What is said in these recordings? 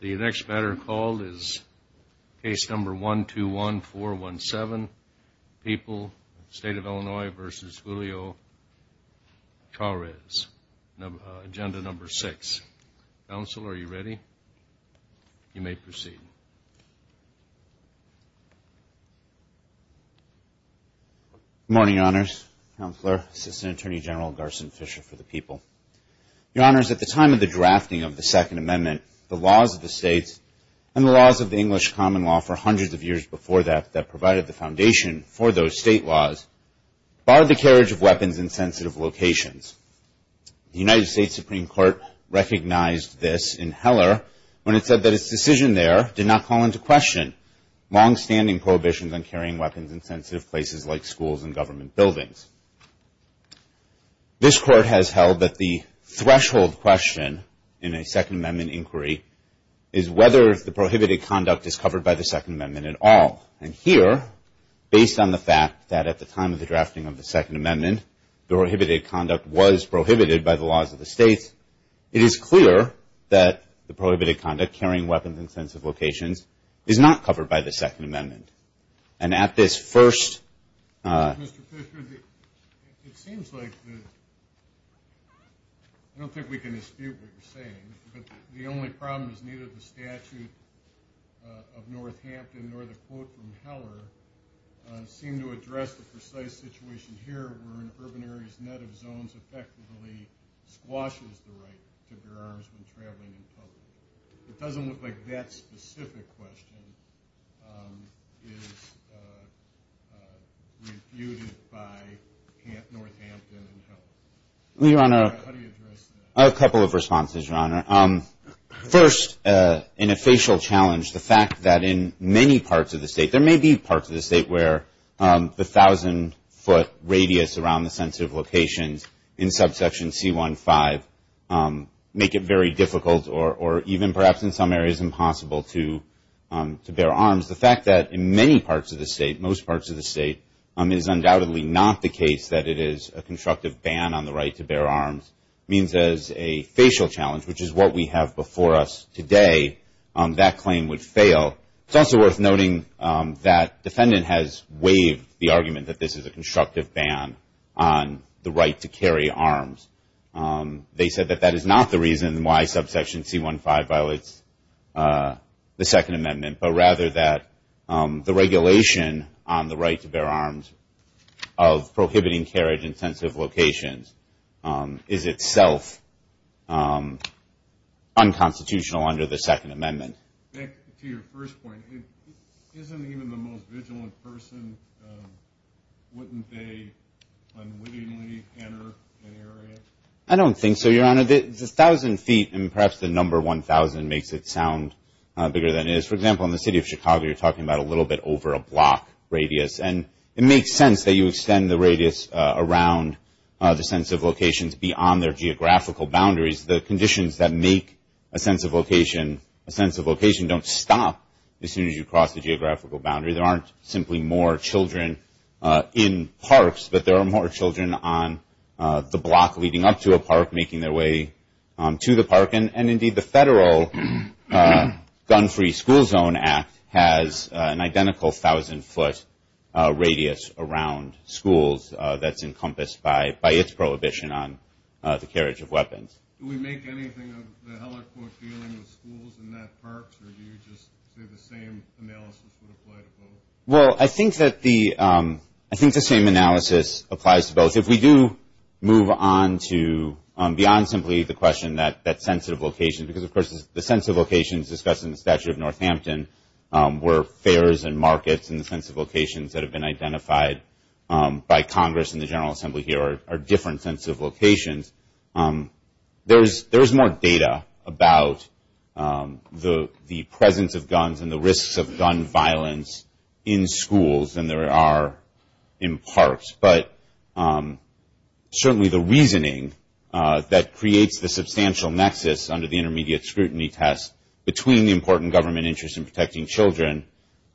The next matter called is case number 121417, People, State of Illinois v. Julio Charez, agenda number six. Counsel, are you ready? You may proceed. Good morning, Your Honors. Counselor, Assistant Attorney General Garson Fisher for the People. Your Honors, at the time of the drafting of the Second Amendment, the laws of the states and the laws of the English common law for hundreds of years before that that provided the foundation for those state laws barred the carriage of weapons in sensitive locations. The United States Supreme Court recognized this in Heller when it said that its decision there did not call into question longstanding prohibitions on carrying weapons in sensitive places like schools and government buildings. This Court has held that the threshold question in a Second Amendment inquiry is whether the prohibited conduct is covered by the Second Amendment at all. And here, based on the fact that at the time of the drafting of the Second Amendment, the prohibited conduct was prohibited by the laws of the states, it is clear that the prohibited conduct, carrying weapons in sensitive locations, is not covered by the Mr. Fisher, it seems like, I don't think we can dispute what you're saying, but the only problem is neither the statute of Northampton nor the quote from Heller seem to address the precise situation here where an urban area's net of zones effectively squashes the right to bear arms when traveling in public. It doesn't look like that specific question is refuted by Northampton and Heller. How do you address that? A couple of responses, Your Honor. First, in a facial challenge, the fact that in many parts of the state, there may be parts of the state where the 1,000-foot radius around the sensitive locations in subsection C-1-5 make it very difficult or even perhaps in some areas impossible to bear arms, the fact that in many parts of the state, most parts of the state, it is undoubtedly not the case that it is a constructive ban on the right to bear arms means as a facial challenge, which is what we have before us today, that claim would fail. It's also worth noting that defendant has waived the argument that this is a constructive ban on the right to carry arms. They said that that is not the reason why subsection C-1-5 violates the Second Amendment, but rather that the regulation on the right to bear arms of prohibiting carriage in sensitive locations is itself unconstitutional under the Second Amendment. To your first point, isn't even the most vigilant person, wouldn't they unwittingly enter an area? I don't think so, Your Honor. The 1,000 feet and perhaps the number 1,000 makes it sound bigger than it is. For example, in the city of Chicago, you're talking about a little bit over a block radius, and it makes sense that you extend the radius around the sensitive locations beyond their geographical boundaries. The conditions that make a sensitive location a sensitive location don't stop as soon as you cross the geographical boundary. There aren't simply more children in parks, but there are more children on the block leading up to a park, making their way to the park. Indeed, the federal Gun-Free School Zone Act has an identical 1,000 foot radius around schools that's encompassed by its prohibition on the carriage of weapons. Do we make anything of the helicopter dealing with schools and not parks, or do you just say the same analysis would apply to both? Well, I think that the same analysis applies to both. If we do move on to beyond simply the question that sensitive location, because of course the sensitive locations discussed in the statute of Northampton were fairs and markets, and the sensitive locations that have been identified by Congress and the General Assembly here are different sensitive locations. There's more data about the presence of guns and the risks of gun violence in schools than there are in parks, but certainly the reasoning that creates the substantial nexus under the intermediate scrutiny test between the important government interest in protecting children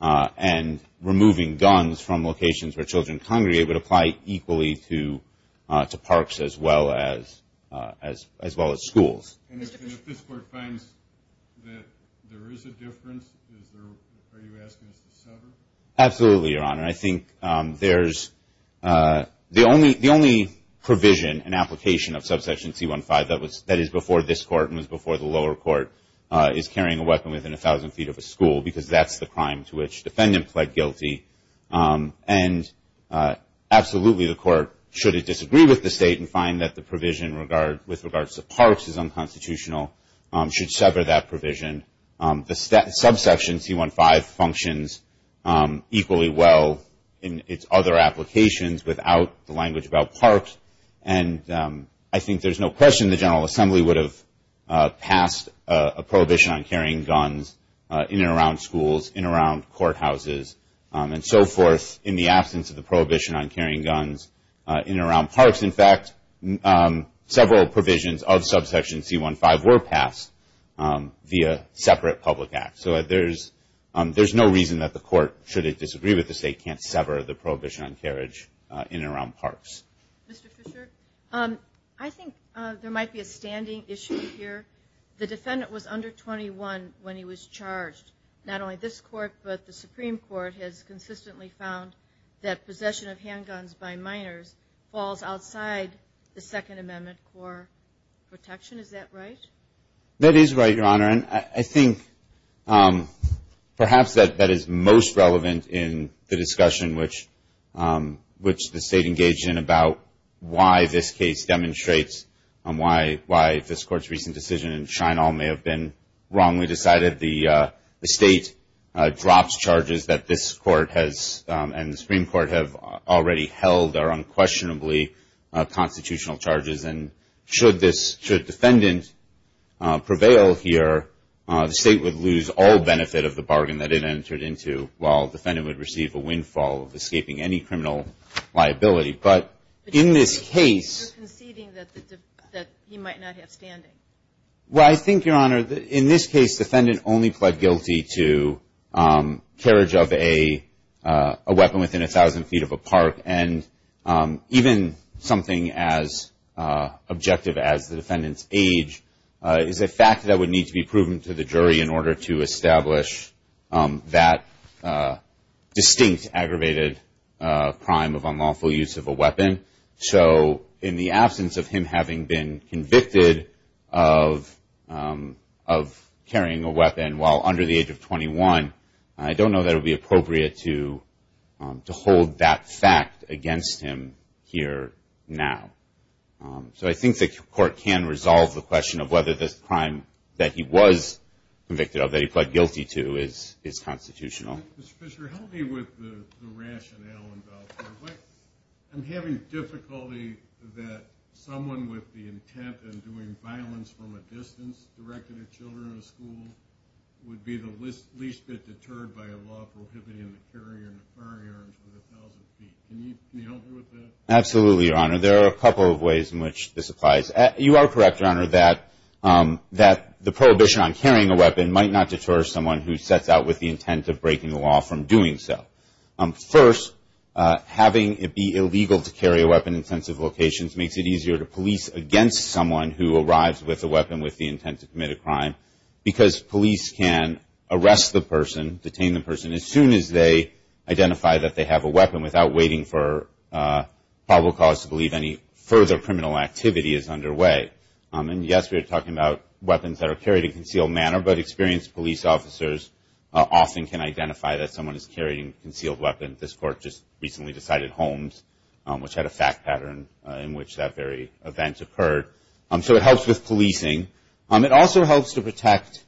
and removing guns from locations where children congregate would apply equally to parks as well as schools. And if this court finds that there is a difference, are you asking us to sever? Absolutely, Your Honor. I think there's the only provision and application of subsection C-15 that is before this court and was before the lower court is carrying a weapon within 1,000 feet of a school, because that's the crime to which defendant pled guilty. And absolutely the court, should it disagree with the state and find that the provision with regards to parks is unconstitutional, should sever that provision. The subsection C-15 functions equally well in its other applications without the language about parks, and I think there's no question the General Assembly would have passed a prohibition on carrying guns in and around schools, in and around courthouses, and so forth in the absence of the prohibition on carrying guns in and around parks. In fact, several provisions of subsection C-15 were passed via separate public acts. So there's no reason that the court, should it disagree with the state, can't sever the prohibition on carriage in and around parks. Mr. Fisher, I think there might be a standing issue here. The defendant was under 21 when he was charged. Not only this court, but the Supreme Court has consistently found that possession of handguns by minors falls outside the Second Amendment core protection. Is that right? That is right, Your Honor, and I think perhaps that is most relevant in the discussion which the state engaged in about why this case demonstrates why this court's recent decision in Shrine Park was wrong. We decided the state drops charges that this court has, and the Supreme Court have already held are unquestionably constitutional charges, and should this, should defendant prevail here, the state would lose all benefit of the bargain that it entered into, while defendant would receive a windfall of escaping any criminal liability. But in this case But you're conceding that he might not have standing. Well, I think, Your Honor, in this case, defendant only pled guilty to carriage of a weapon within a thousand feet of a park, and even something as objective as the defendant's age is a fact that would need to be proven to the jury in order to establish that distinct aggravated crime of unlawful use of a weapon. So in the absence of him having been convicted of carrying a weapon while under the age of 21, I don't know that it would be appropriate to hold that fact against him here now. So I think the court can resolve the question of whether this crime that he was convicted of, that he pled guilty to, is constitutional. Mr. Fisher, help me with the rationale involved here. I'm having difficulty that someone with the intent of doing violence from a distance directed at children in a school would be the least bit deterred by a law prohibiting the carrying of firearms within a thousand feet. Can you help me with that? Absolutely, Your Honor. There are a couple of ways in which this applies. You are correct, Your Honor, that the prohibition on carrying a weapon might not deter someone who sets out with the intent of breaking the law from doing so. First, having it be illegal to carry a weapon in sensitive locations makes it easier to police against someone who arrives with a weapon with the intent to commit a crime because police can arrest the person, detain the person, as soon as they identify that they have a weapon without waiting for probable cause to believe any further criminal activity is underway. And yes, we are talking about carried in a concealed manner, but experienced police officers often can identify that someone is carrying a concealed weapon. This court just recently decided Holmes, which had a fact pattern in which that very event occurred. So it helps with policing. It also helps to protect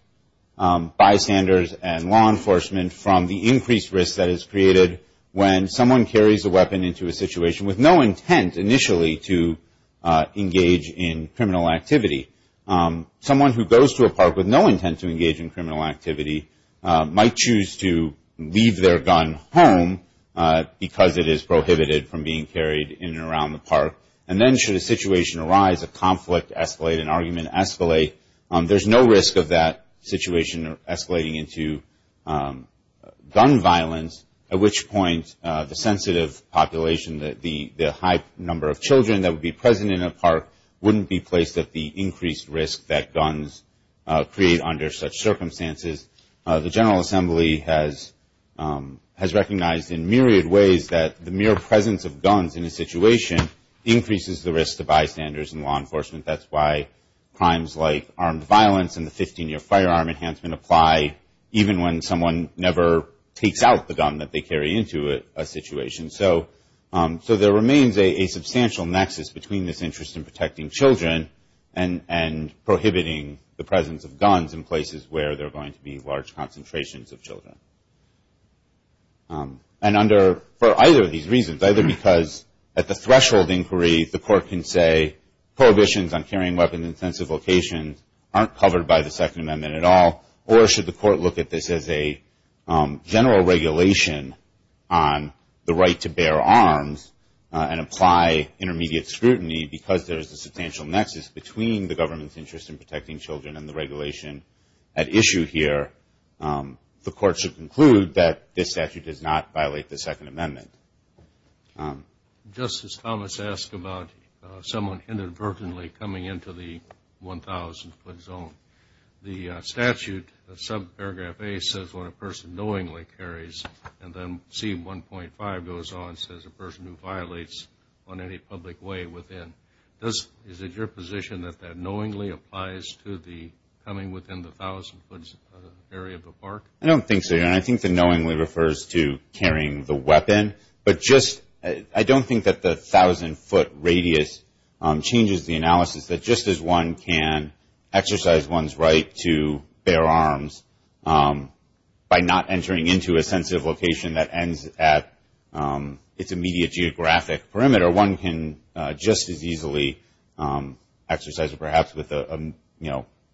bystanders and law enforcement from the increased risk that is created when someone carries a weapon into a situation with no intent initially to engage in criminal activity. Someone who goes to a park with no intent to engage in criminal activity might choose to leave their gun home because it is prohibited from being carried in and around the park. And then should a situation arise, a conflict escalate, an argument escalate, there is no risk of that situation escalating into gun violence, at which point the sensitive population, the high number of children that would be present in a park wouldn't be placed at the increased risk that guns create under such circumstances. The General Assembly has recognized in myriad ways that the mere presence of guns in a situation increases the risk to bystanders and law enforcement. That's why crimes like armed violence and the 15-year firearm enhancement apply even when someone never takes out the gun that they carry into a situation. So there remains a substantial nexus between this interest in protecting children and prohibiting the presence of guns in places where there are going to be large concentrations of children. And under, for either of these reasons, either because at the threshold inquiry the court can say prohibitions on carrying weapons in sensitive locations aren't covered by the and apply intermediate scrutiny because there is a substantial nexus between the government's interest in protecting children and the regulation at issue here, the court should conclude that this statute does not violate the Second Amendment. Justice Thomas asked about someone inadvertently coming into the 1,000 foot zone. The statute subparagraph A says when a person knowingly carries, and then C1.5 goes on and says a person who violates on any public way within. Is it your position that that knowingly applies to the coming within the 1,000 foot area of the park? I don't think so, Your Honor. I think the knowingly refers to carrying the weapon, but just I don't think that the 1,000 foot radius changes the analysis that just as one can exercise one's right to bear arms by not entering into a sensitive location that ends at its immediate geographic perimeter, one can just as easily exercise, perhaps with a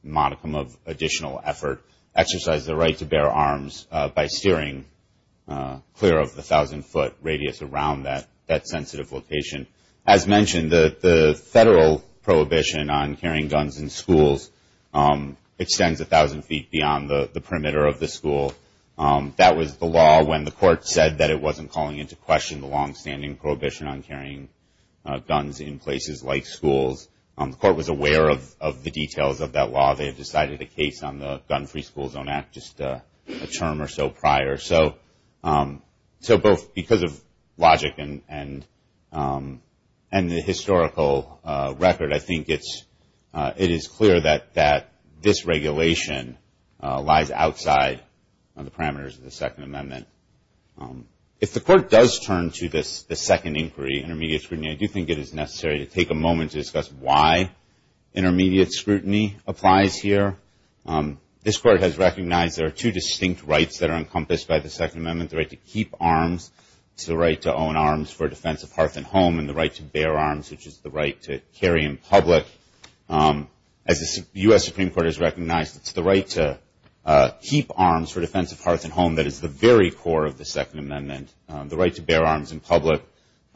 modicum of additional effort, exercise the right to bear arms by steering clear of the 1,000 foot radius around that sensitive location. As mentioned, the federal prohibition on carrying guns in schools extends 1,000 feet beyond the perimeter of the school. That was the law when the court said that it wasn't calling into question the long-standing prohibition on carrying guns in places like schools. The court was aware of the details of that law. They had decided a case on the Gun-Free School Zone Act just a term or so prior. So both because of logic and the historical record, I think it is clear that this regulation lies outside of the parameters of the Second Amendment. If the court does turn to the second inquiry, intermediate scrutiny, I do think it is necessary to take a moment to discuss why intermediate scrutiny applies here. This court has recognized there are two distinct rights that are encompassed by the Second Amendment, the right to keep arms, the right to own arms for defense of hearth and home, and the right to bear arms, which is the right to carry in public. As the U.S. Supreme Court has recognized, it is the right to keep arms for defense of hearth and home that is the very core of the Second Amendment. The right to bear arms in public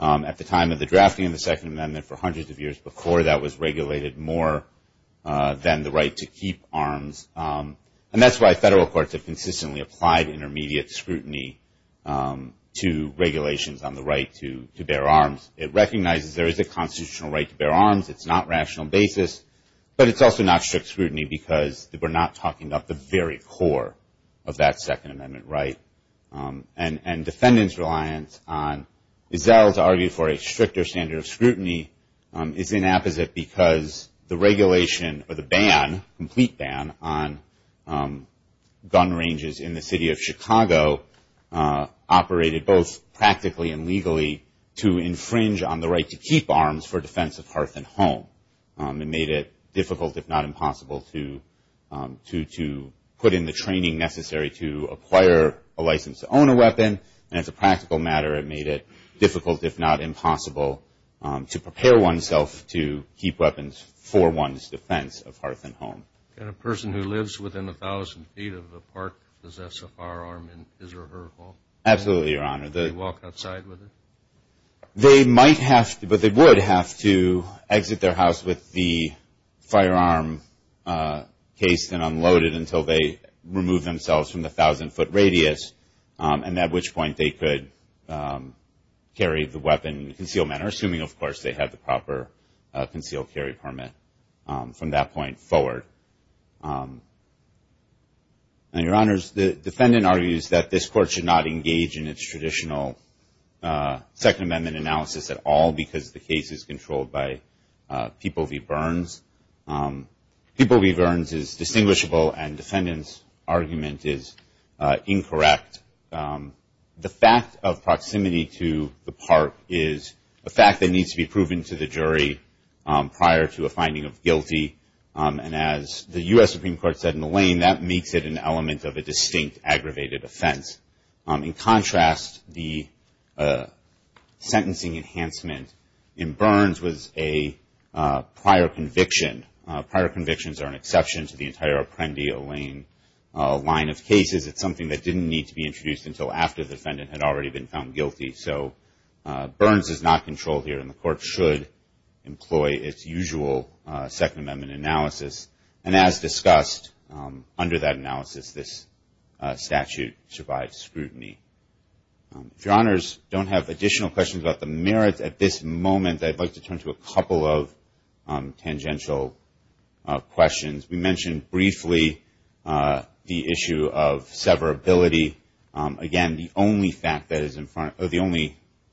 at the time of the drafting of the Second Amendment for hundreds of years before that was regulated more than the right to keep arms. And that is why federal courts have consistently applied intermediate scrutiny to regulations on the right to bear arms. It recognizes there is a constitutional right to bear arms. It is not rational basis, but it is also not strict scrutiny because we are not talking about the very core of that Second Amendment right. And defendants' reliance on, as Zell has argued, for a stricter standard of scrutiny is inapposite because the regulation or the ban, complete ban, on gun ranges in the city of Chicago operated both practically and legally to infringe on the right to keep arms for defense of hearth and home. It made it difficult, if not impossible, to put in the training necessary to acquire a license to own a weapon. And as a practical matter, it made it difficult, if not impossible, to protect one's defense of hearth and home. And a person who lives within 1,000 feet of the park possess a firearm in his or her home? Absolutely, Your Honor. Do they walk outside with it? They might have to, but they would have to exit their house with the firearm cased and unloaded until they remove themselves from the 1,000-foot radius, and at which point they could carry the weapon in concealed manner, assuming, of course, they had a concealed carry permit from that point forward. And, Your Honors, the defendant argues that this Court should not engage in its traditional Second Amendment analysis at all because the case is controlled by people v. Burns. People v. Burns is distinguishable, and defendants' argument is prior to a finding of guilty. And as the U.S. Supreme Court said in Olayne, that makes it an element of a distinct aggravated offense. In contrast, the sentencing enhancement in Burns was a prior conviction. Prior convictions are an exception to the entire Apprendi-Olayne line of cases. It's something that didn't need to be introduced until after the Second Amendment analysis. And as discussed, under that analysis, this statute survived scrutiny. If Your Honors don't have additional questions about the merits at this moment, I'd like to turn to a couple of tangential questions. We mentioned briefly the issue of severability. Again, the only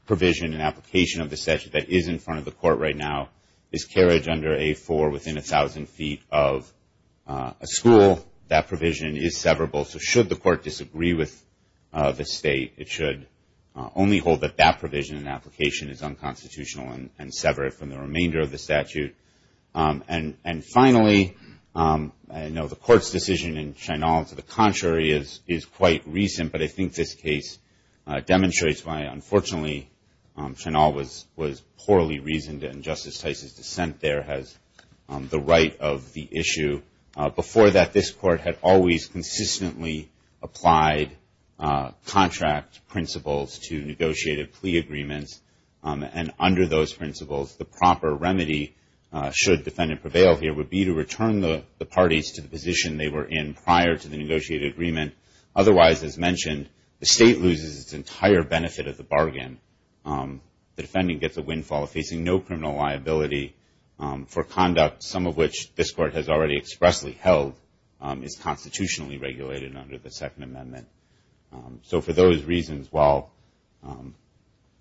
provision and application of the statute that is in the marriage under A-4 within 1,000 feet of a school, that provision is severable. So should the Court disagree with the State, it should only hold that that provision and application is unconstitutional and sever it from the remainder of the statute. And finally, I know the Court's decision in Shynal to the contrary is quite recent, but I think this case demonstrates why, unfortunately, Shynal was poorly reasoned and Justice Tice's dissent there has the right of the issue. Before that, this Court had always consistently applied contract principles to negotiated plea agreements. And under those principles, the proper remedy, should defendant prevail here, would be to return the parties to the position they were in prior to the entire benefit of the bargain. The defendant gets a windfall of facing no criminal liability for conduct, some of which this Court has already expressly held is constitutionally regulated under the Second Amendment. So for those reasons, while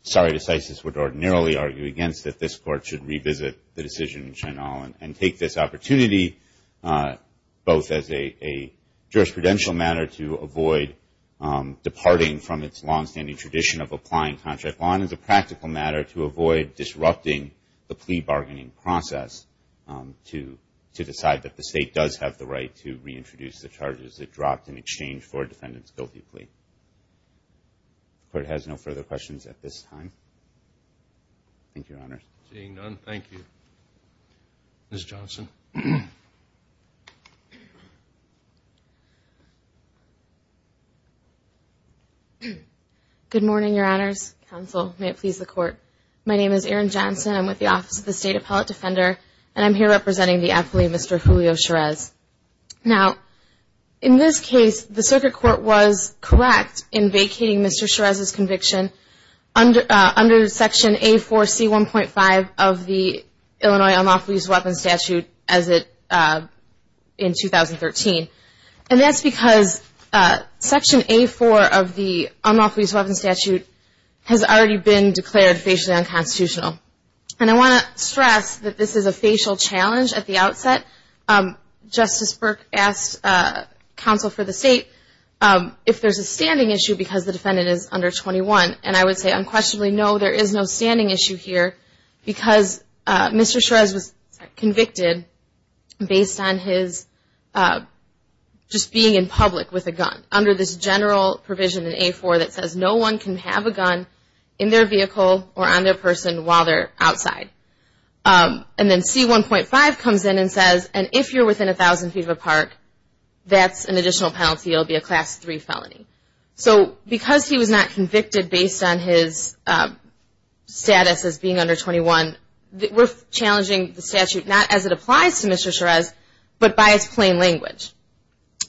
sorry to Tice's would ordinarily argue against it, this Court should revisit the decision in Shynal and take this opportunity, both as a jurisprudential matter to avoid departing from its longstanding tradition of applying contract law and as a practical matter to avoid disrupting the plea bargaining process to decide that the State does have the right to reintroduce the charges it dropped in exchange for a defendant's guilty plea. The Court has no further questions at this time. Thank you, Your Honors. Seeing none, thank you. Ms. Johnson. Good morning, Your Honors. Counsel, may it please the Court. My name is Erin Johnson. I'm with the Office of the State Appellate Defender and I'm here representing the affilee, Mr. Julio Cherez. Now, in this case, the Circuit Court was correct in vacating Mr. Cherez's of the Illinois Unlawful Use of Weapons Statute in 2013. And that's because Section A-4 of the Unlawful Use of Weapons Statute has already been declared facially unconstitutional. And I want to stress that this is a facial challenge at the outset. Justice Burke asked counsel for the State if there's a standing issue because the defendant is under 21. And I would say unquestionably, no, there is no standing issue because Mr. Cherez was convicted based on his just being in public with a gun under this general provision in A-4 that says no one can have a gun in their vehicle or on their person while they're outside. And then C-1.5 comes in and says, and if you're within 1,000 feet of a park, that's an additional penalty. You'll be a Class 3 felony. So because he was not convicted based on his status as being under 21, we're challenging the statute not as it applies to Mr. Cherez, but by its plain language.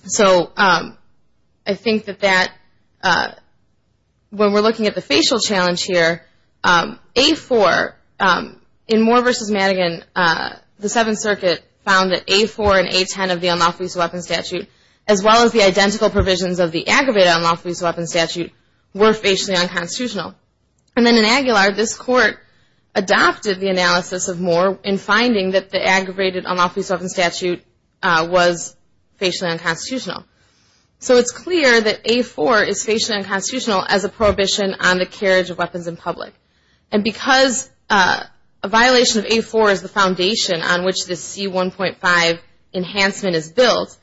So I think that that, when we're looking at the facial challenge here, A-4 in Moore v. Madigan, the Seventh Circuit found that A-4 and A-10 of the Unlawful Use of Weapons Statute, as well as the identical provisions of the aggravated Unlawful Use of Weapons Statute, were facially unconstitutional. And then in Aguilar, this Court adopted the analysis of Moore in finding that the aggravated Unlawful Use of Weapons Statute was facially unconstitutional. So it's clear that A-4 is facially unconstitutional as a prohibition on the carriage of weapons in public. And because a violation of A-4 is the foundation on which this C-1.5 enhancement is built,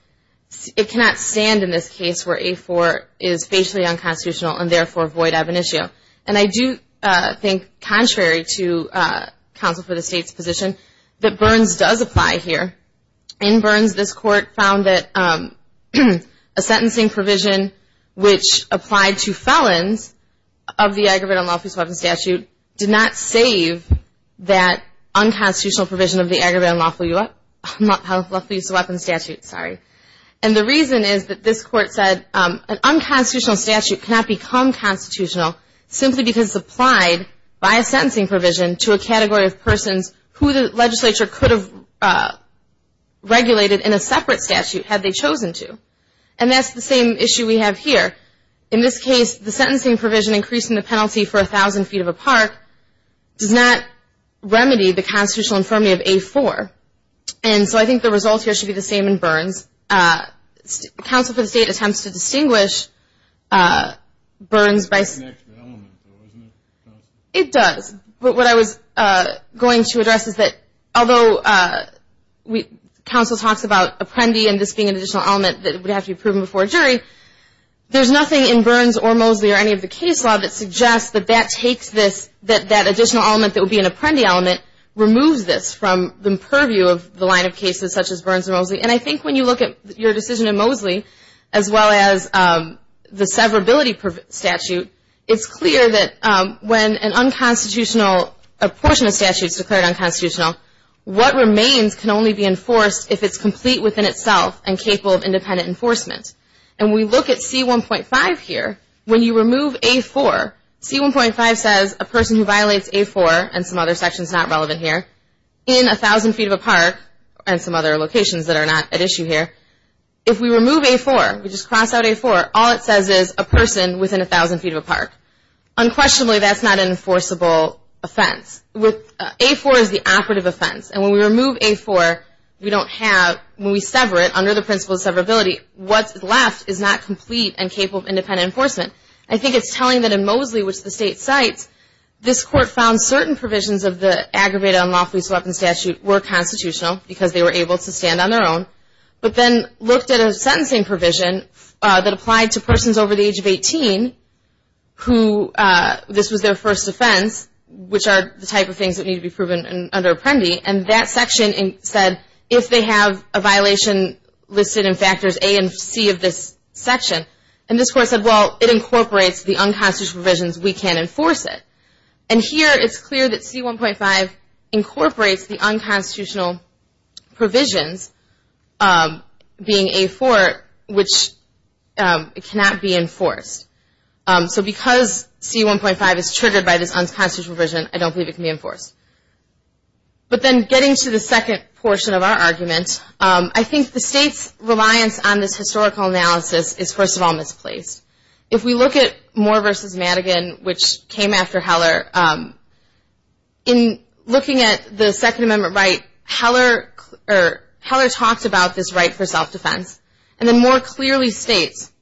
it cannot stand in this case where A-4 is facially ab initio. And I do think, contrary to counsel for the State's position, that Burns does apply here. In Burns, this Court found that a sentencing provision which applied to felons of the aggravated Unlawful Use of Weapons Statute did not save that unconstitutional provision of Unlawful Use of Weapons Statute. And the reason is that this Court said an unconstitutional statute cannot become constitutional simply because it's applied by a sentencing provision to a category of persons who the legislature could have regulated in a separate statute had they chosen to. And that's the same issue we have here. In this case, the sentencing provision increasing the penalty for a thousand feet of a park does not So I think the results here should be the same in Burns. Counsel for the State attempts to distinguish Burns by... It connects to the element though, doesn't it? It does. But what I was going to address is that although counsel talks about apprendee and this being an additional element that would have to be proven before a jury, there's nothing in Burns or Mosley or any of the case law that suggests that that additional element that would be an And I think when you look at your decision in Mosley, as well as the severability statute, it's clear that when an unconstitutional portion of statutes declared unconstitutional, what remains can only be enforced if it's complete within itself and capable of independent enforcement. And we look at C1.5 here. When you remove A4, C1.5 says a person who violates A4 and some other sections not relevant here, in a thousand feet of a park or some other locations that are not at issue here. If we remove A4, we just cross out A4, all it says is a person within a thousand feet of a Unquestionably, that's not an enforceable offense. A4 is the operative offense. And when we remove A4, we don't have... When we sever it, under the principle of severability, what's left is not complete and capable of independent enforcement. I think it's telling that in Mosley, which the State cites, this Court found certain provisions of the aggravated unlawful use of weapons statute were constitutional because they were able to stand on their own, but then looked at a sentencing provision that applied to persons over the age of 18 who this was their first offense, which are the type of things that need to be proven under Apprendi, and that section said if they have a violation listed in factors A and C of this section, and this Court said, well, it incorporates the unconstitutional provisions, we can't enforce it. And here, it's clear that C1.5 incorporates the unconstitutional provisions, being A4, which cannot be enforced. So because C1.5 is triggered by this unconstitutional provision, I don't believe it can be enforced. But then getting to the second portion of our argument, I think the State's reliance on this historical analysis is, first of all, misplaced. If we look at Moore v. Madigan, which came after Heller, in looking at the Second Amendment right, Heller talked about this right for self-defense, and then more clearly states,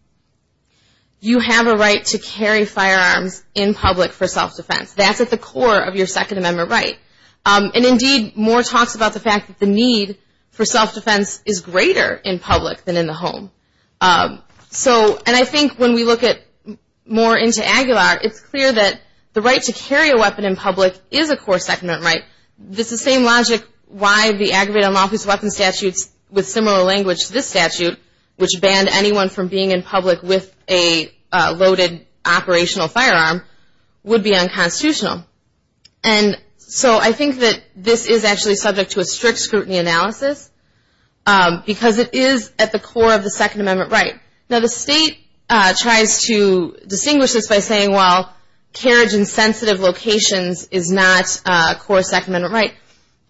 you have a right to carry firearms in public for self-defense. That's at the core of your Second Amendment right. And indeed, Moore talks about the fact that the need for self-defense is greater in public than in the home. So, and I think when we look at Moore into Aguilar, it's clear that the right to carry a weapon in public is a core Second Amendment right. It's the same logic why the aggravated unlawful use of weapons statutes with similar language to this statute, which banned anyone from being in public with a loaded operational firearm, would be unconstitutional. And so I think that this is actually subject to a strict scrutiny analysis, because it is at the core of the Second Amendment right. Now the State tries to distinguish this by saying, well, carriage in sensitive locations is not a core Second Amendment right.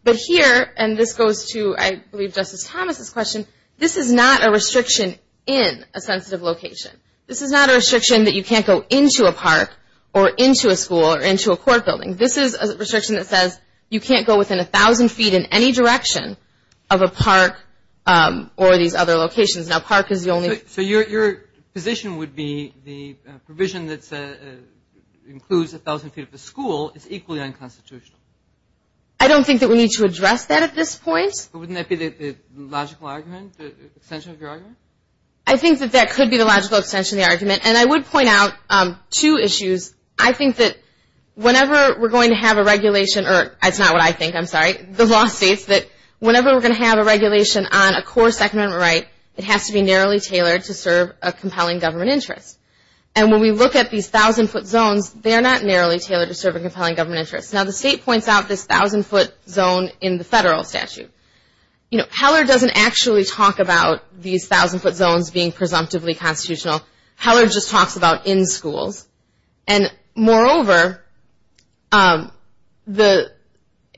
But here, and this goes to, I believe, Justice Thomas' question, this is not a restriction in a sensitive location. This is not a restriction that you can't go into a park or into a school or into a court building. This is a restriction that says you can't go within 1,000 feet in any direction of a park or these other locations. Now park is the only. So your position would be the provision that includes 1,000 feet of the school is equally unconstitutional. I don't think that we need to address that at this point. But wouldn't that be the logical argument, the extension of your argument? I think that that could be the logical extension of the argument. And I would point out two issues. I think that whenever we're going to have a regulation, or that's not what I think, I'm sorry, the law states that whenever we're going to have a regulation on a core Second Amendment right, it has to be narrowly tailored to serve a compelling government interest. And when we look at these 1,000 foot zones, they're not narrowly tailored to serve a compelling government interest. Now the State points out this 1,000 foot zone in the federal statute. You know, Heller doesn't actually talk about these 1,000 foot zones being presumptively constitutional. Heller just talks about in schools. And moreover, the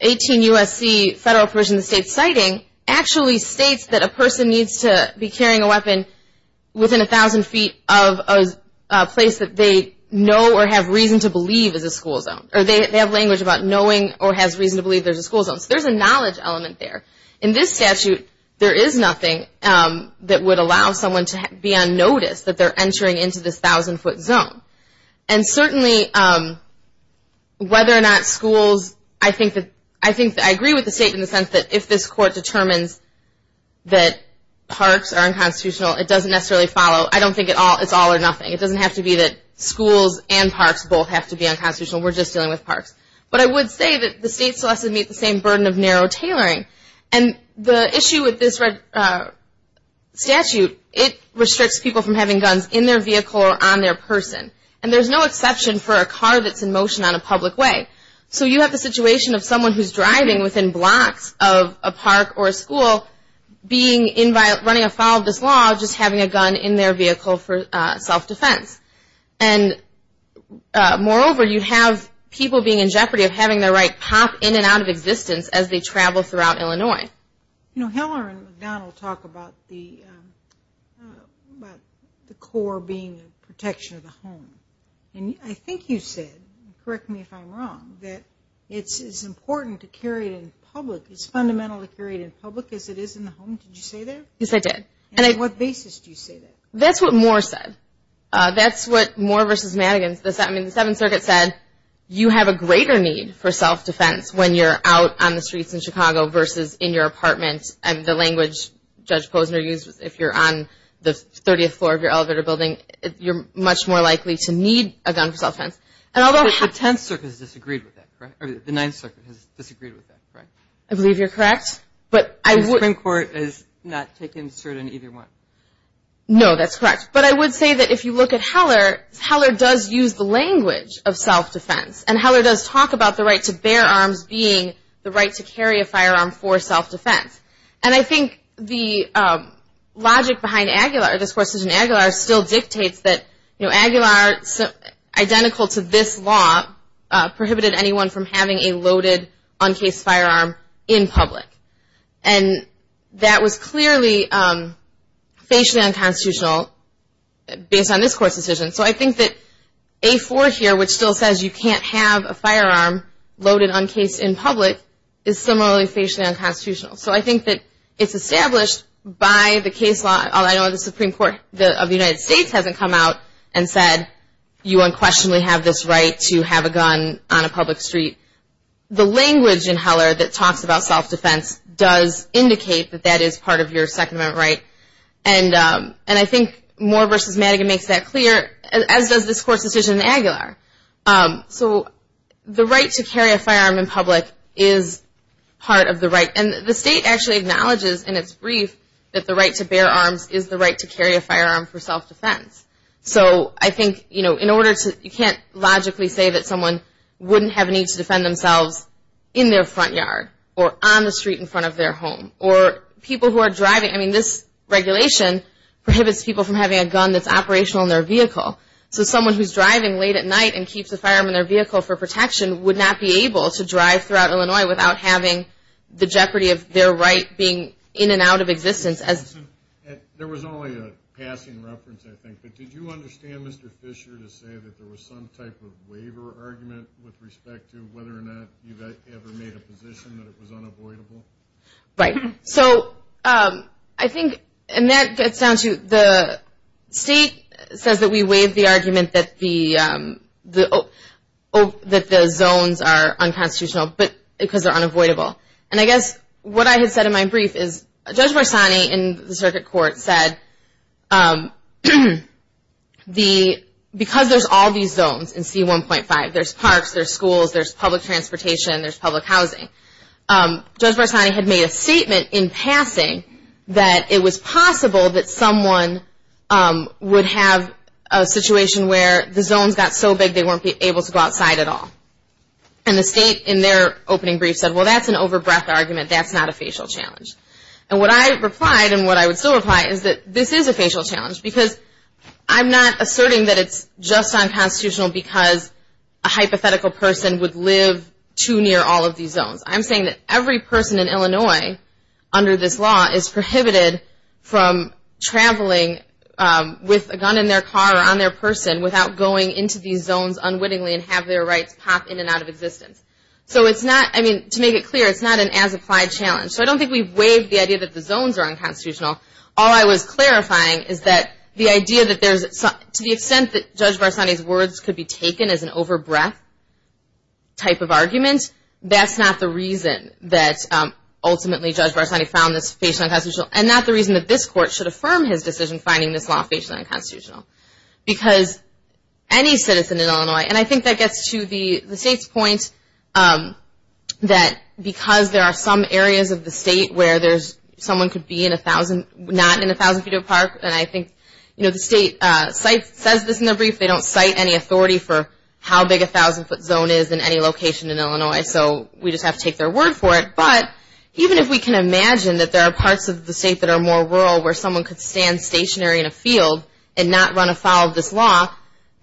18 U.S.C. Federal Provision of the State citing actually states that a person needs to be carrying a weapon within 1,000 feet of a place that they know or have reason to believe is a school zone. Or they have language about knowing or has reason to believe there's a school zone. So there's a knowledge element there. In this statute, there is nothing that would allow someone to be unnoticed, that they're entering into this 1,000 foot zone. And certainly, whether or not schools, I think that I agree with the State in the sense that if this Court determines that parks are unconstitutional, it doesn't necessarily follow. I don't think it's all or nothing. It doesn't have to be that schools and parks both have to be unconstitutional. We're just dealing with parks. But I would say that the State still has to meet the same burden of narrow tailoring. And the issue with this statute, it restricts people from having guns in their vehicle or on their person. And there's no exception for a car that's in motion on a public way. So you have the situation of someone who's driving within blocks of a park or a school, running afoul of this law, just having a gun in their vehicle for self-defense. And moreover, you have people being in jeopardy of having their right pop in and out of existence as they travel throughout Illinois. You know, Heller and McDonnell talk about the core being the protection of the home. And I think you said, correct me if I'm wrong, that it's important to carry it in public, it's fundamental to carry it in public as it is in the home. Did you say that? Yes, I did. And on what basis do you say that? That's what Moore said. That's what Moore versus Madigan, I mean, the Seventh Circuit said, you have a greater need for self-defense when you're out on the streets in Chicago versus in your apartment. And the language Judge Posner used, if you're on the 30th floor of your elevator building, you're much more likely to need a gun for self-defense. The Tenth Circuit has disagreed with that, correct? Or the Ninth Circuit has disagreed with that, correct? I believe you're correct. The Supreme Court has not taken a certain either one. No, that's correct. But I would say that if you look at Heller, Heller does use the language of self-defense, and Heller does talk about the right to bear arms being the right to carry a firearm for self-defense. And I think the logic behind Aguilar, this course is in Aguilar, still dictates that, you know, Aguilar, identical to this law, prohibited anyone from having a loaded, uncased firearm in public. And that was clearly facially unconstitutional based on this court's decision. So I think that A4 here, which still says you can't have a firearm loaded, uncased, in public, is similarly facially unconstitutional. So I think that it's established by the case law, although I know the Supreme Court of the United States hasn't come out and said, you unquestionably have this right to have a gun on a public street. The language in Heller that talks about self-defense does indicate that that is part of your second-amendment right. And I think Moore v. Madigan makes that clear, as does this court's decision in Aguilar. So the right to carry a firearm in public is part of the right. And the state actually acknowledges in its brief that the right to bear arms is the right to carry a firearm for self-defense. So I think, you know, you can't logically say that someone wouldn't have a need to defend themselves in their front yard or on the street in front of their home or people who are driving. I mean, this regulation prohibits people from having a gun that's operational in their vehicle. So someone who's driving late at night and keeps a firearm in their vehicle for protection would not be able to drive throughout Illinois without having the jeopardy of their right being in and out of existence. There was only a passing reference, I think. But did you understand, Mr. Fisher, to say that there was some type of waiver argument with respect to whether or not you've ever made a position that it was unavoidable? Right. So I think, and that gets down to the state says that we waive the argument that the zones are unconstitutional because they're unavoidable. And I guess what I had said in my brief is Judge Barsani in the circuit court said because there's all these zones in C1.5, there's parks, there's schools, there's public transportation, there's public housing, Judge Barsani had made a statement in passing that it was possible that someone would have a situation where the zones got so big they weren't able to go outside at all. And the state in their opening brief said, well, that's an over-breath argument. That's not a facial challenge. And what I replied and what I would still reply is that this is a facial challenge because I'm not asserting that it's just unconstitutional because a hypothetical person would live too near all of these zones. I'm saying that every person in Illinois under this law is prohibited from traveling with a gun in their car or on their person without going into these zones unwittingly and have their rights pop in and out of existence. So it's not, I mean, to make it clear, it's not an as-applied challenge. So I don't think we've waived the idea that the zones are unconstitutional. All I was clarifying is that the idea that there's, to the extent that Judge Barsani's words could be taken as an over-breath type of argument, that's not the reason that ultimately Judge Barsani found this facially unconstitutional and not the reason that this court should affirm his decision finding this law facially unconstitutional. Because any citizen in Illinois, and I think that gets to the state's point that because there are some areas of the state where there's, someone could be in a thousand, not in a thousand feet of park, and I think, you know, the state says this in their brief, they don't cite any authority for how big a thousand foot zone is in any location in Illinois. So we just have to take their word for it. But even if we can imagine that there are parts of the state that are more rural where someone could stand stationary in a field and not run afoul of this law,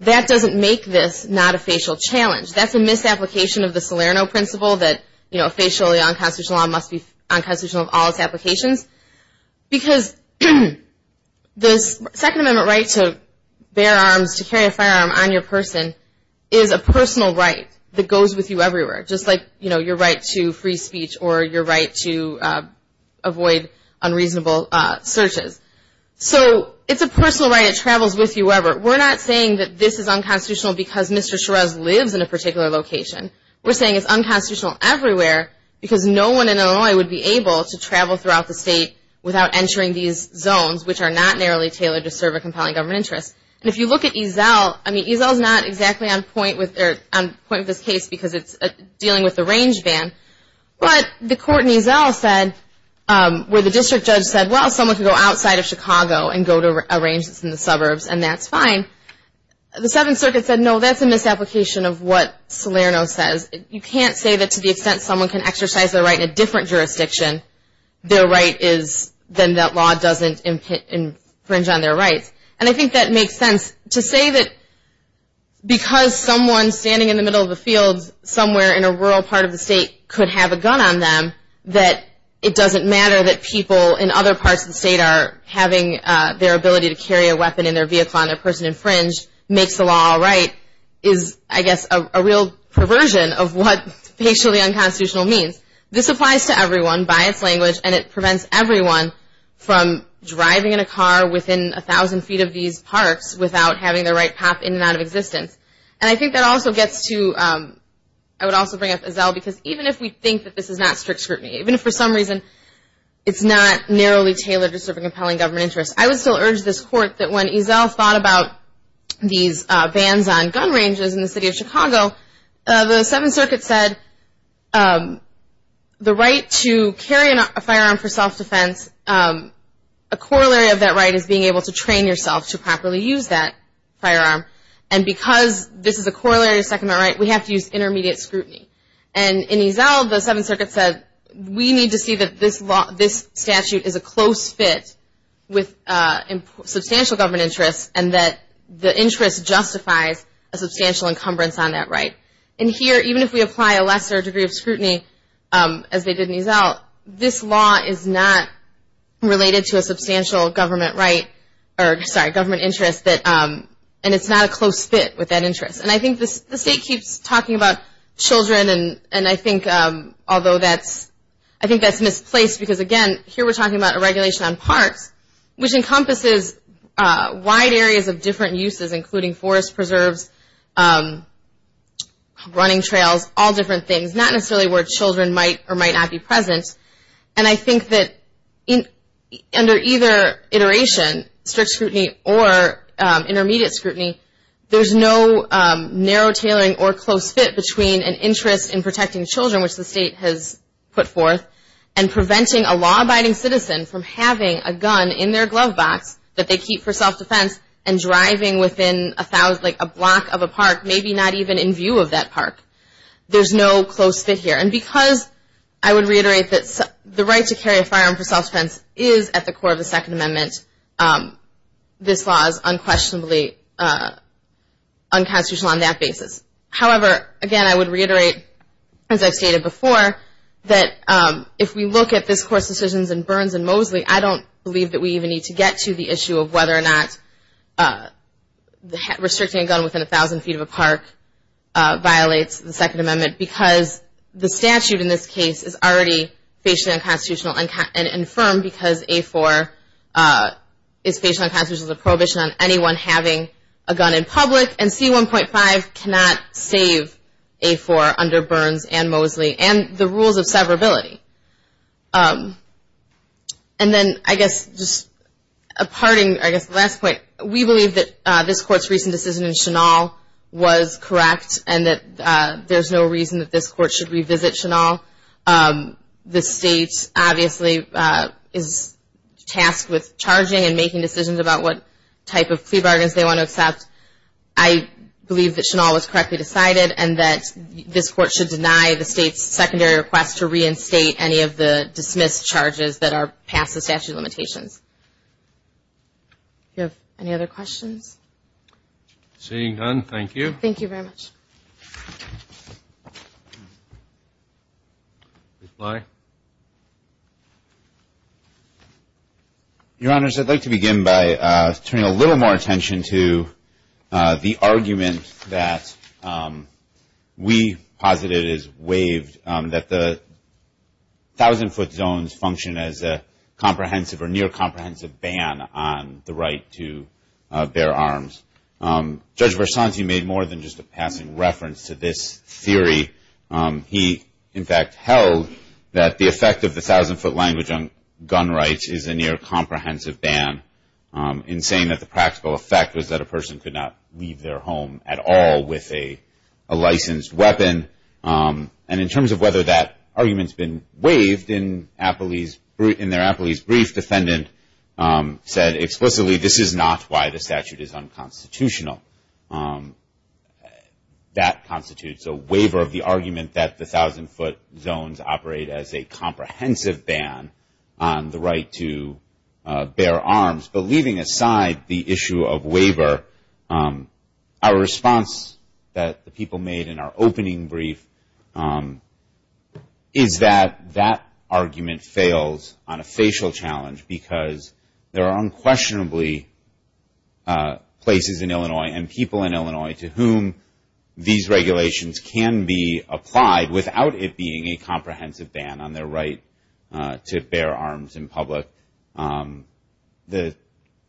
that doesn't make this not a facial challenge. That's a misapplication of the Salerno principle that, you know, facially unconstitutional must be unconstitutional of all its applications. Because this Second Amendment right to bear arms, to carry a firearm on your person, is a personal right that goes with you everywhere, just like, you know, your right to free speech or your right to avoid unreasonable searches. So it's a personal right. It travels with you wherever. We're not saying that this is unconstitutional because Mr. Shiraz lives in a particular location. We're saying it's unconstitutional everywhere because no one in Illinois would be able to travel throughout the state without entering these zones, which are not narrowly tailored to serve a compelling government interest. And if you look at EZEL, I mean, EZEL is not exactly on point with this case because it's dealing with the range ban. But the court in EZEL said, where the district judge said, well, someone can go outside of Chicago and go to a range that's in the suburbs, and that's fine. The Seventh Circuit said, no, that's a misapplication of what Salerno says. You can't say that to the extent someone can exercise their right in a different jurisdiction, their right is then that law doesn't infringe on their rights. And I think that makes sense. To say that because someone standing in the middle of a field somewhere in a rural part of the state could have a gun on them, that it doesn't matter that people in other parts of the state are having their ability to carry a weapon in their vehicle on their person and infringe makes the law all right is, I guess, a real perversion of what facially unconstitutional means. This applies to everyone by its language, and it prevents everyone from driving in a car within a thousand feet of these parks without having their right pop in and out of existence. And I think that also gets to, I would also bring up EZEL, because even if we think that this is not strict scrutiny, even if for some reason it's not narrowly tailored to serve a compelling government interest, I would still urge this court that when EZEL thought about these bans on gun ranges in the city of Chicago, the Seventh Circuit said the right to carry a firearm for self-defense, a corollary of that right is being able to train yourself to properly use that firearm. And because this is a corollary of the Second Amendment right, we have to use intermediate scrutiny. And in EZEL, the Seventh Circuit said we need to see that this statute is a close fit with substantial government interest and that the interest justifies a substantial encumbrance on that right. And here, even if we apply a lesser degree of scrutiny, as they did in EZEL, this law is not related to a substantial government interest, and it's not a close fit with that interest. And I think the state keeps talking about children, and I think that's misplaced, because again, here we're talking about a regulation on parks, which encompasses wide areas of different uses, including forest preserves, running trails, all different things, not necessarily where children might or might not be present. And I think that under either iteration, strict scrutiny or intermediate scrutiny, there's no narrow tailoring or close fit between an interest in protecting children, which the state has put forth, and preventing a law-abiding citizen from having a gun in their glove box that they keep for self-defense and driving within a block of a park, maybe not even in view of that park. There's no close fit here. And because I would reiterate that the right to carry a firearm for self-defense is at the core of the Second Amendment, this law is unquestionably unconstitutional on that basis. However, again, I would reiterate, as I've stated before, that if we look at this Court's decisions in Burns and Mosley, I don't believe that we even need to get to the issue of whether or not restricting a gun within 1,000 feet of a park violates the Second Amendment, because the statute in this case is already facially unconstitutional and infirm because A-4 is facially unconstitutional as a prohibition on anyone having a gun in public, and C-1.5 cannot save A-4 under Burns and Mosley and the rules of severability. And then, I guess, just a parting, I guess, last point. We believe that this Court's recent decision in Chennaul was correct and that there's no reason that this Court should revisit Chennaul. The State, obviously, is tasked with charging and making decisions about what type of plea bargains they want to accept. I believe that Chennaul was correctly decided and that this Court should deny the State's secondary request to reinstate any of the dismissed charges that are past the statute limitations. Do you have any other questions? Seeing none, thank you. Thank you very much. Mr. Bligh? Your Honors, I'd like to begin by turning a little more attention to the argument that we posited as waived, that the 1,000-foot zones function as a comprehensive or near-comprehensive ban on the right to bear arms. Judge Versanti made more than just a passing reference to this theory. He, in fact, held that the effect of the 1,000-foot language on gun rights is a near-comprehensive ban in saying that the practical effect was that a person could not leave their home at all with a licensed weapon. And in terms of whether that argument's been waived, in their Appley's brief, defendant said explicitly, this is not why the statute is unconstitutional. That constitutes a waiver of the argument that the 1,000-foot zones operate as a comprehensive ban on the right to bear arms. But leaving aside the issue of waiver, our response that the people made in our opening brief is that that argument fails on a facial challenge because there are unquestionably places in Illinois and people in Illinois to whom these regulations can be applied without it being a comprehensive ban on their right to bear arms in public. The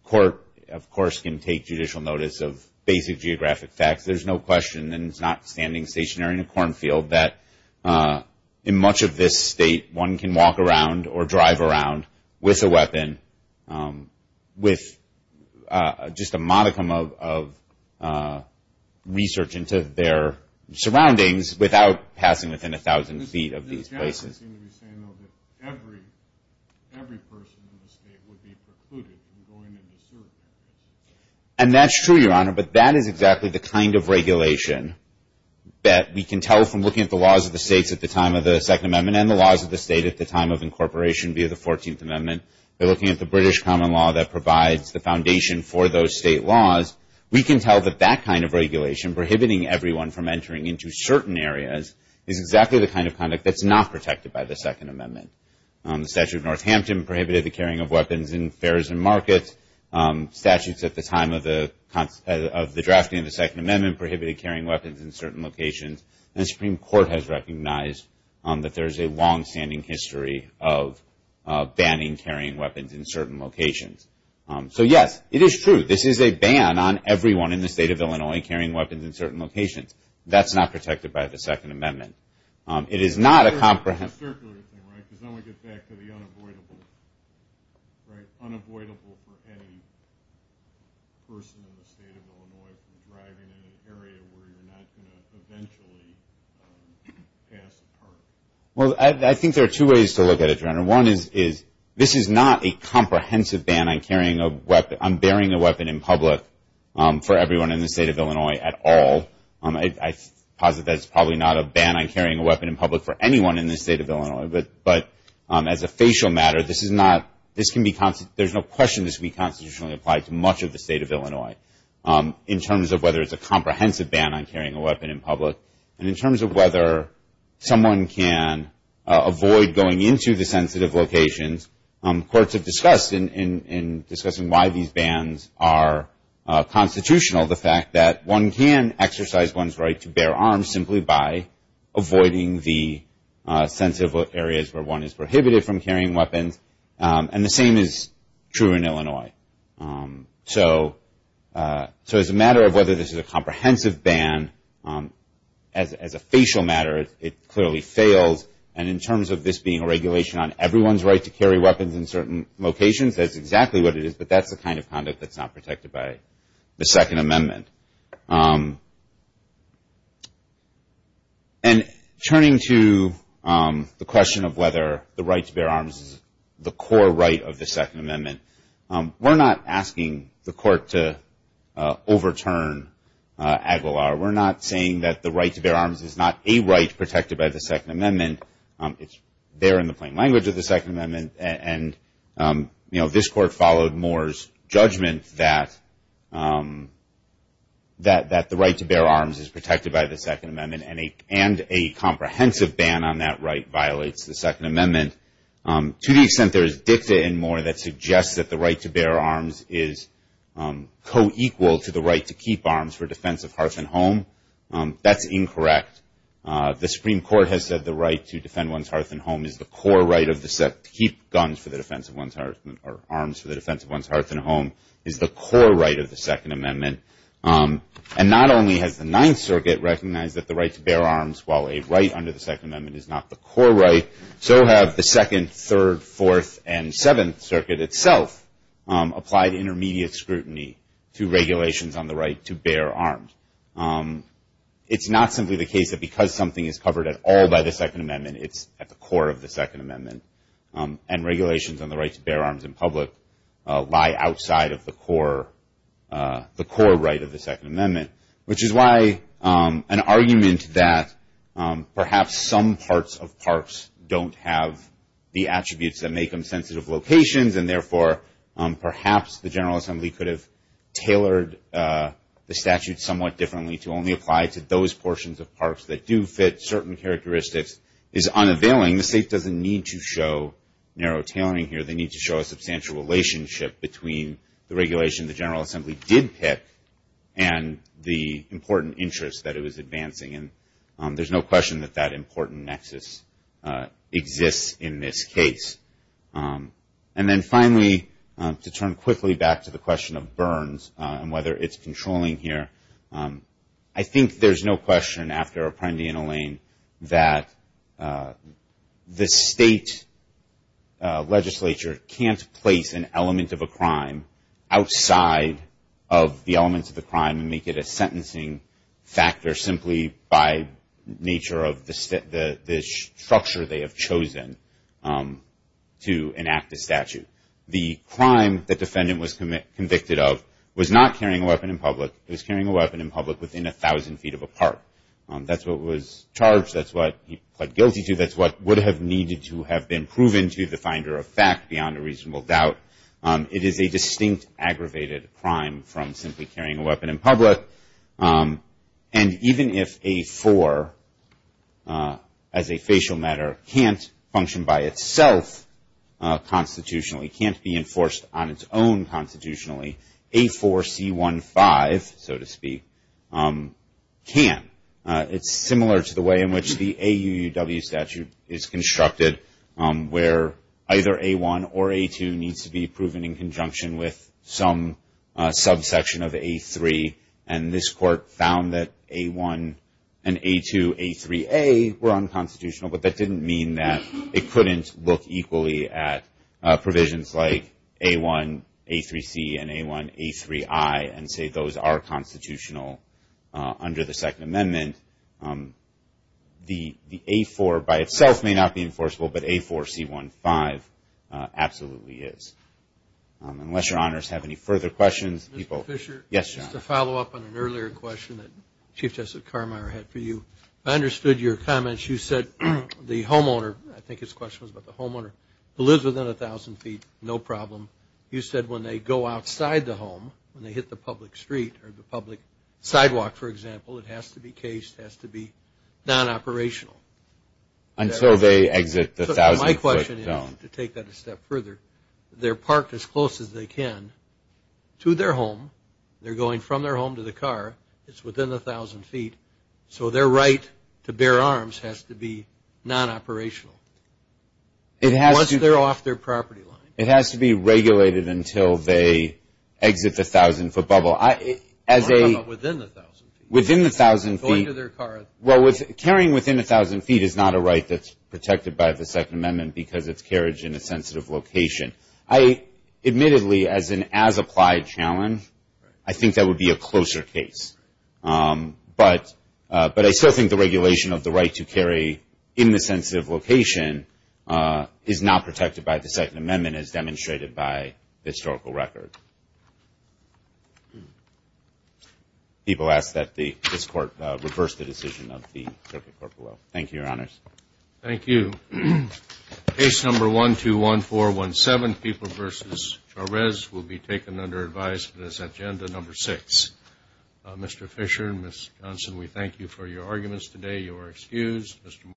court, of course, can take judicial notice of basic geographic facts. There's no question, and it's not standing stationary in a cornfield, that in much of this state, one can walk around or drive around with a weapon, with just a modicum of research into their surroundings, without passing within 1,000 feet of these places. Every person in the state would be precluded from going into certain areas. And that's true, Your Honor, but that is exactly the kind of regulation that we can tell from looking at the laws of the states at the time of the Second Amendment and the laws of the state at the time of incorporation via the Fourteenth Amendment. We're looking at the British common law that provides the foundation for those state laws. We can tell that that kind of regulation, prohibiting everyone from entering into certain areas, is exactly the kind of conduct that's not protected by the Second Amendment. The statute of Northampton prohibited the carrying of weapons in fairs and markets. Statutes at the time of the drafting of the Second Amendment prohibited carrying weapons in certain locations. And the Supreme Court has recognized that there is a longstanding history of banning carrying weapons in certain locations. So, yes, it is true. This is a ban on everyone in the state of Illinois carrying weapons in certain locations. That's not protected by the Second Amendment. It is not a comprehensive... Well, I think there are two ways to look at it, Your Honor. One is this is not a comprehensive ban on carrying a weapon, on bearing a weapon in public for everyone in the state of Illinois at all. I posit that it's probably not a ban on carrying a weapon in public for anyone in the state of Illinois. But as a facial matter, there's no question this can be constitutionally applied to much of the state of Illinois in terms of whether it's a comprehensive ban on carrying a weapon in public and in terms of whether someone can avoid going into the sensitive locations. Courts have discussed in discussing why these bans are constitutional the fact that one can exercise one's right to bear arms simply by avoiding the sensitive areas where one is prohibited from carrying weapons. And the same is true in Illinois. So as a matter of whether this is a comprehensive ban, as a facial matter, it clearly fails. And in terms of this being a regulation on everyone's right to carry weapons in certain locations, that's exactly what it is, but that's the kind of conduct that's not protected by the Second Amendment. And turning to the question of whether the right to bear arms is the core right of the Second Amendment, we're not asking the court to overturn Aguilar. We're not saying that the right to bear arms is not a right protected by the Second Amendment. It's there in the plain language of the Second Amendment. And, you know, this court followed Moore's judgment that the right to bear arms is protected by the Second Amendment and a comprehensive ban on that right violates the Second Amendment. To the extent there is dicta in Moore that suggests that the right to bear arms is co-equal to the right to keep arms for defense of hearth and home, that's incorrect. The Supreme Court has said the right to defend one's hearth and home is the core right of the Second Amendment. To keep arms for the defense of one's hearth and home is the core right of the Second Amendment. And not only has the Ninth Circuit recognized that the right to bear arms, while a right under the Second Amendment, is not the core right, so have the Second, Third, Fourth, and Seventh Circuit itself applied intermediate scrutiny to regulations on the right to bear arms. It's not simply the case that because something is covered at all by the Second Amendment, it's at the core of the Second Amendment. And regulations on the right to bear arms in public lie outside of the core right of the Second Amendment, which is why an argument that perhaps some parts of parks don't have the attributes that make them sensitive locations and therefore perhaps the General Assembly could have tailored the statute somewhat differently to only apply to those portions of parks that do fit certain characteristics is unavailing. The state doesn't need to show narrow tailoring here. They need to show a substantial relationship between the regulation the General Assembly did pick and the important interest that it was advancing. And there's no question that that important nexus exists in this case. And then finally, to turn quickly back to the question of burns and whether it's controlling here, I think there's no question after Apprendi and Elaine that the state legislature can't place an element of a crime outside of the elements of the crime and make it a sentencing factor simply by nature of the structure they have chosen. to enact the statute. The crime the defendant was convicted of was not carrying a weapon in public. It was carrying a weapon in public within 1,000 feet of a park. That's what was charged. That's what he pled guilty to. That's what would have needed to have been proven to the finder of fact beyond a reasonable doubt. It is a distinct aggravated crime from simply carrying a weapon in public. And even if A4, as a facial matter, can't function by itself constitutionally, can't be enforced on its own constitutionally, A4C15, so to speak, can. It's similar to the way in which the AUUW statute is constructed where either A1 or A2 needs to be proven in conjunction with some subsection of A3, and this court found that A1 and A2A3A were unconstitutional, but that didn't mean that it couldn't look equally at provisions like A1A3C and A1A3I and say those are constitutional under the Second Amendment. The A4 by itself may not be enforceable, but A4C15 absolutely is. Unless your honors have any further questions. Mr. Fisher? Yes, John. Just to follow up on an earlier question that Chief Justice Carmeier had for you, I understood your comments. You said the homeowner, I think his question was about the homeowner, lives within 1,000 feet, no problem. You said when they go outside the home, when they hit the public street or the public sidewalk, for example, it has to be cased, it has to be non-operational. Until they exit the 1,000-foot zone. My question is, to take that a step further, they're parked as close as they can to their home, they're going from their home to the car, it's within 1,000 feet, so their right to bear arms has to be non-operational once they're off their property line. It has to be regulated until they exit the 1,000-foot bubble. What about within the 1,000 feet? Within the 1,000 feet. Going to their car. Well, carrying within 1,000 feet is not a right that's protected by the Second Amendment because it's carriage in a sensitive location. Admittedly, as an as-applied challenge, I think that would be a closer case. But I still think the regulation of the right to carry in the sensitive location is not protected by the Second Amendment as demonstrated by the historical record. People ask that this Court reverse the decision of the Circuit Court below. Thank you, Your Honors. Thank you. Case number 121417, People v. Chárez, will be taken under advice for this agenda, number six. Mr. Fisher and Ms. Johnson, we thank you for your arguments today. You are excused.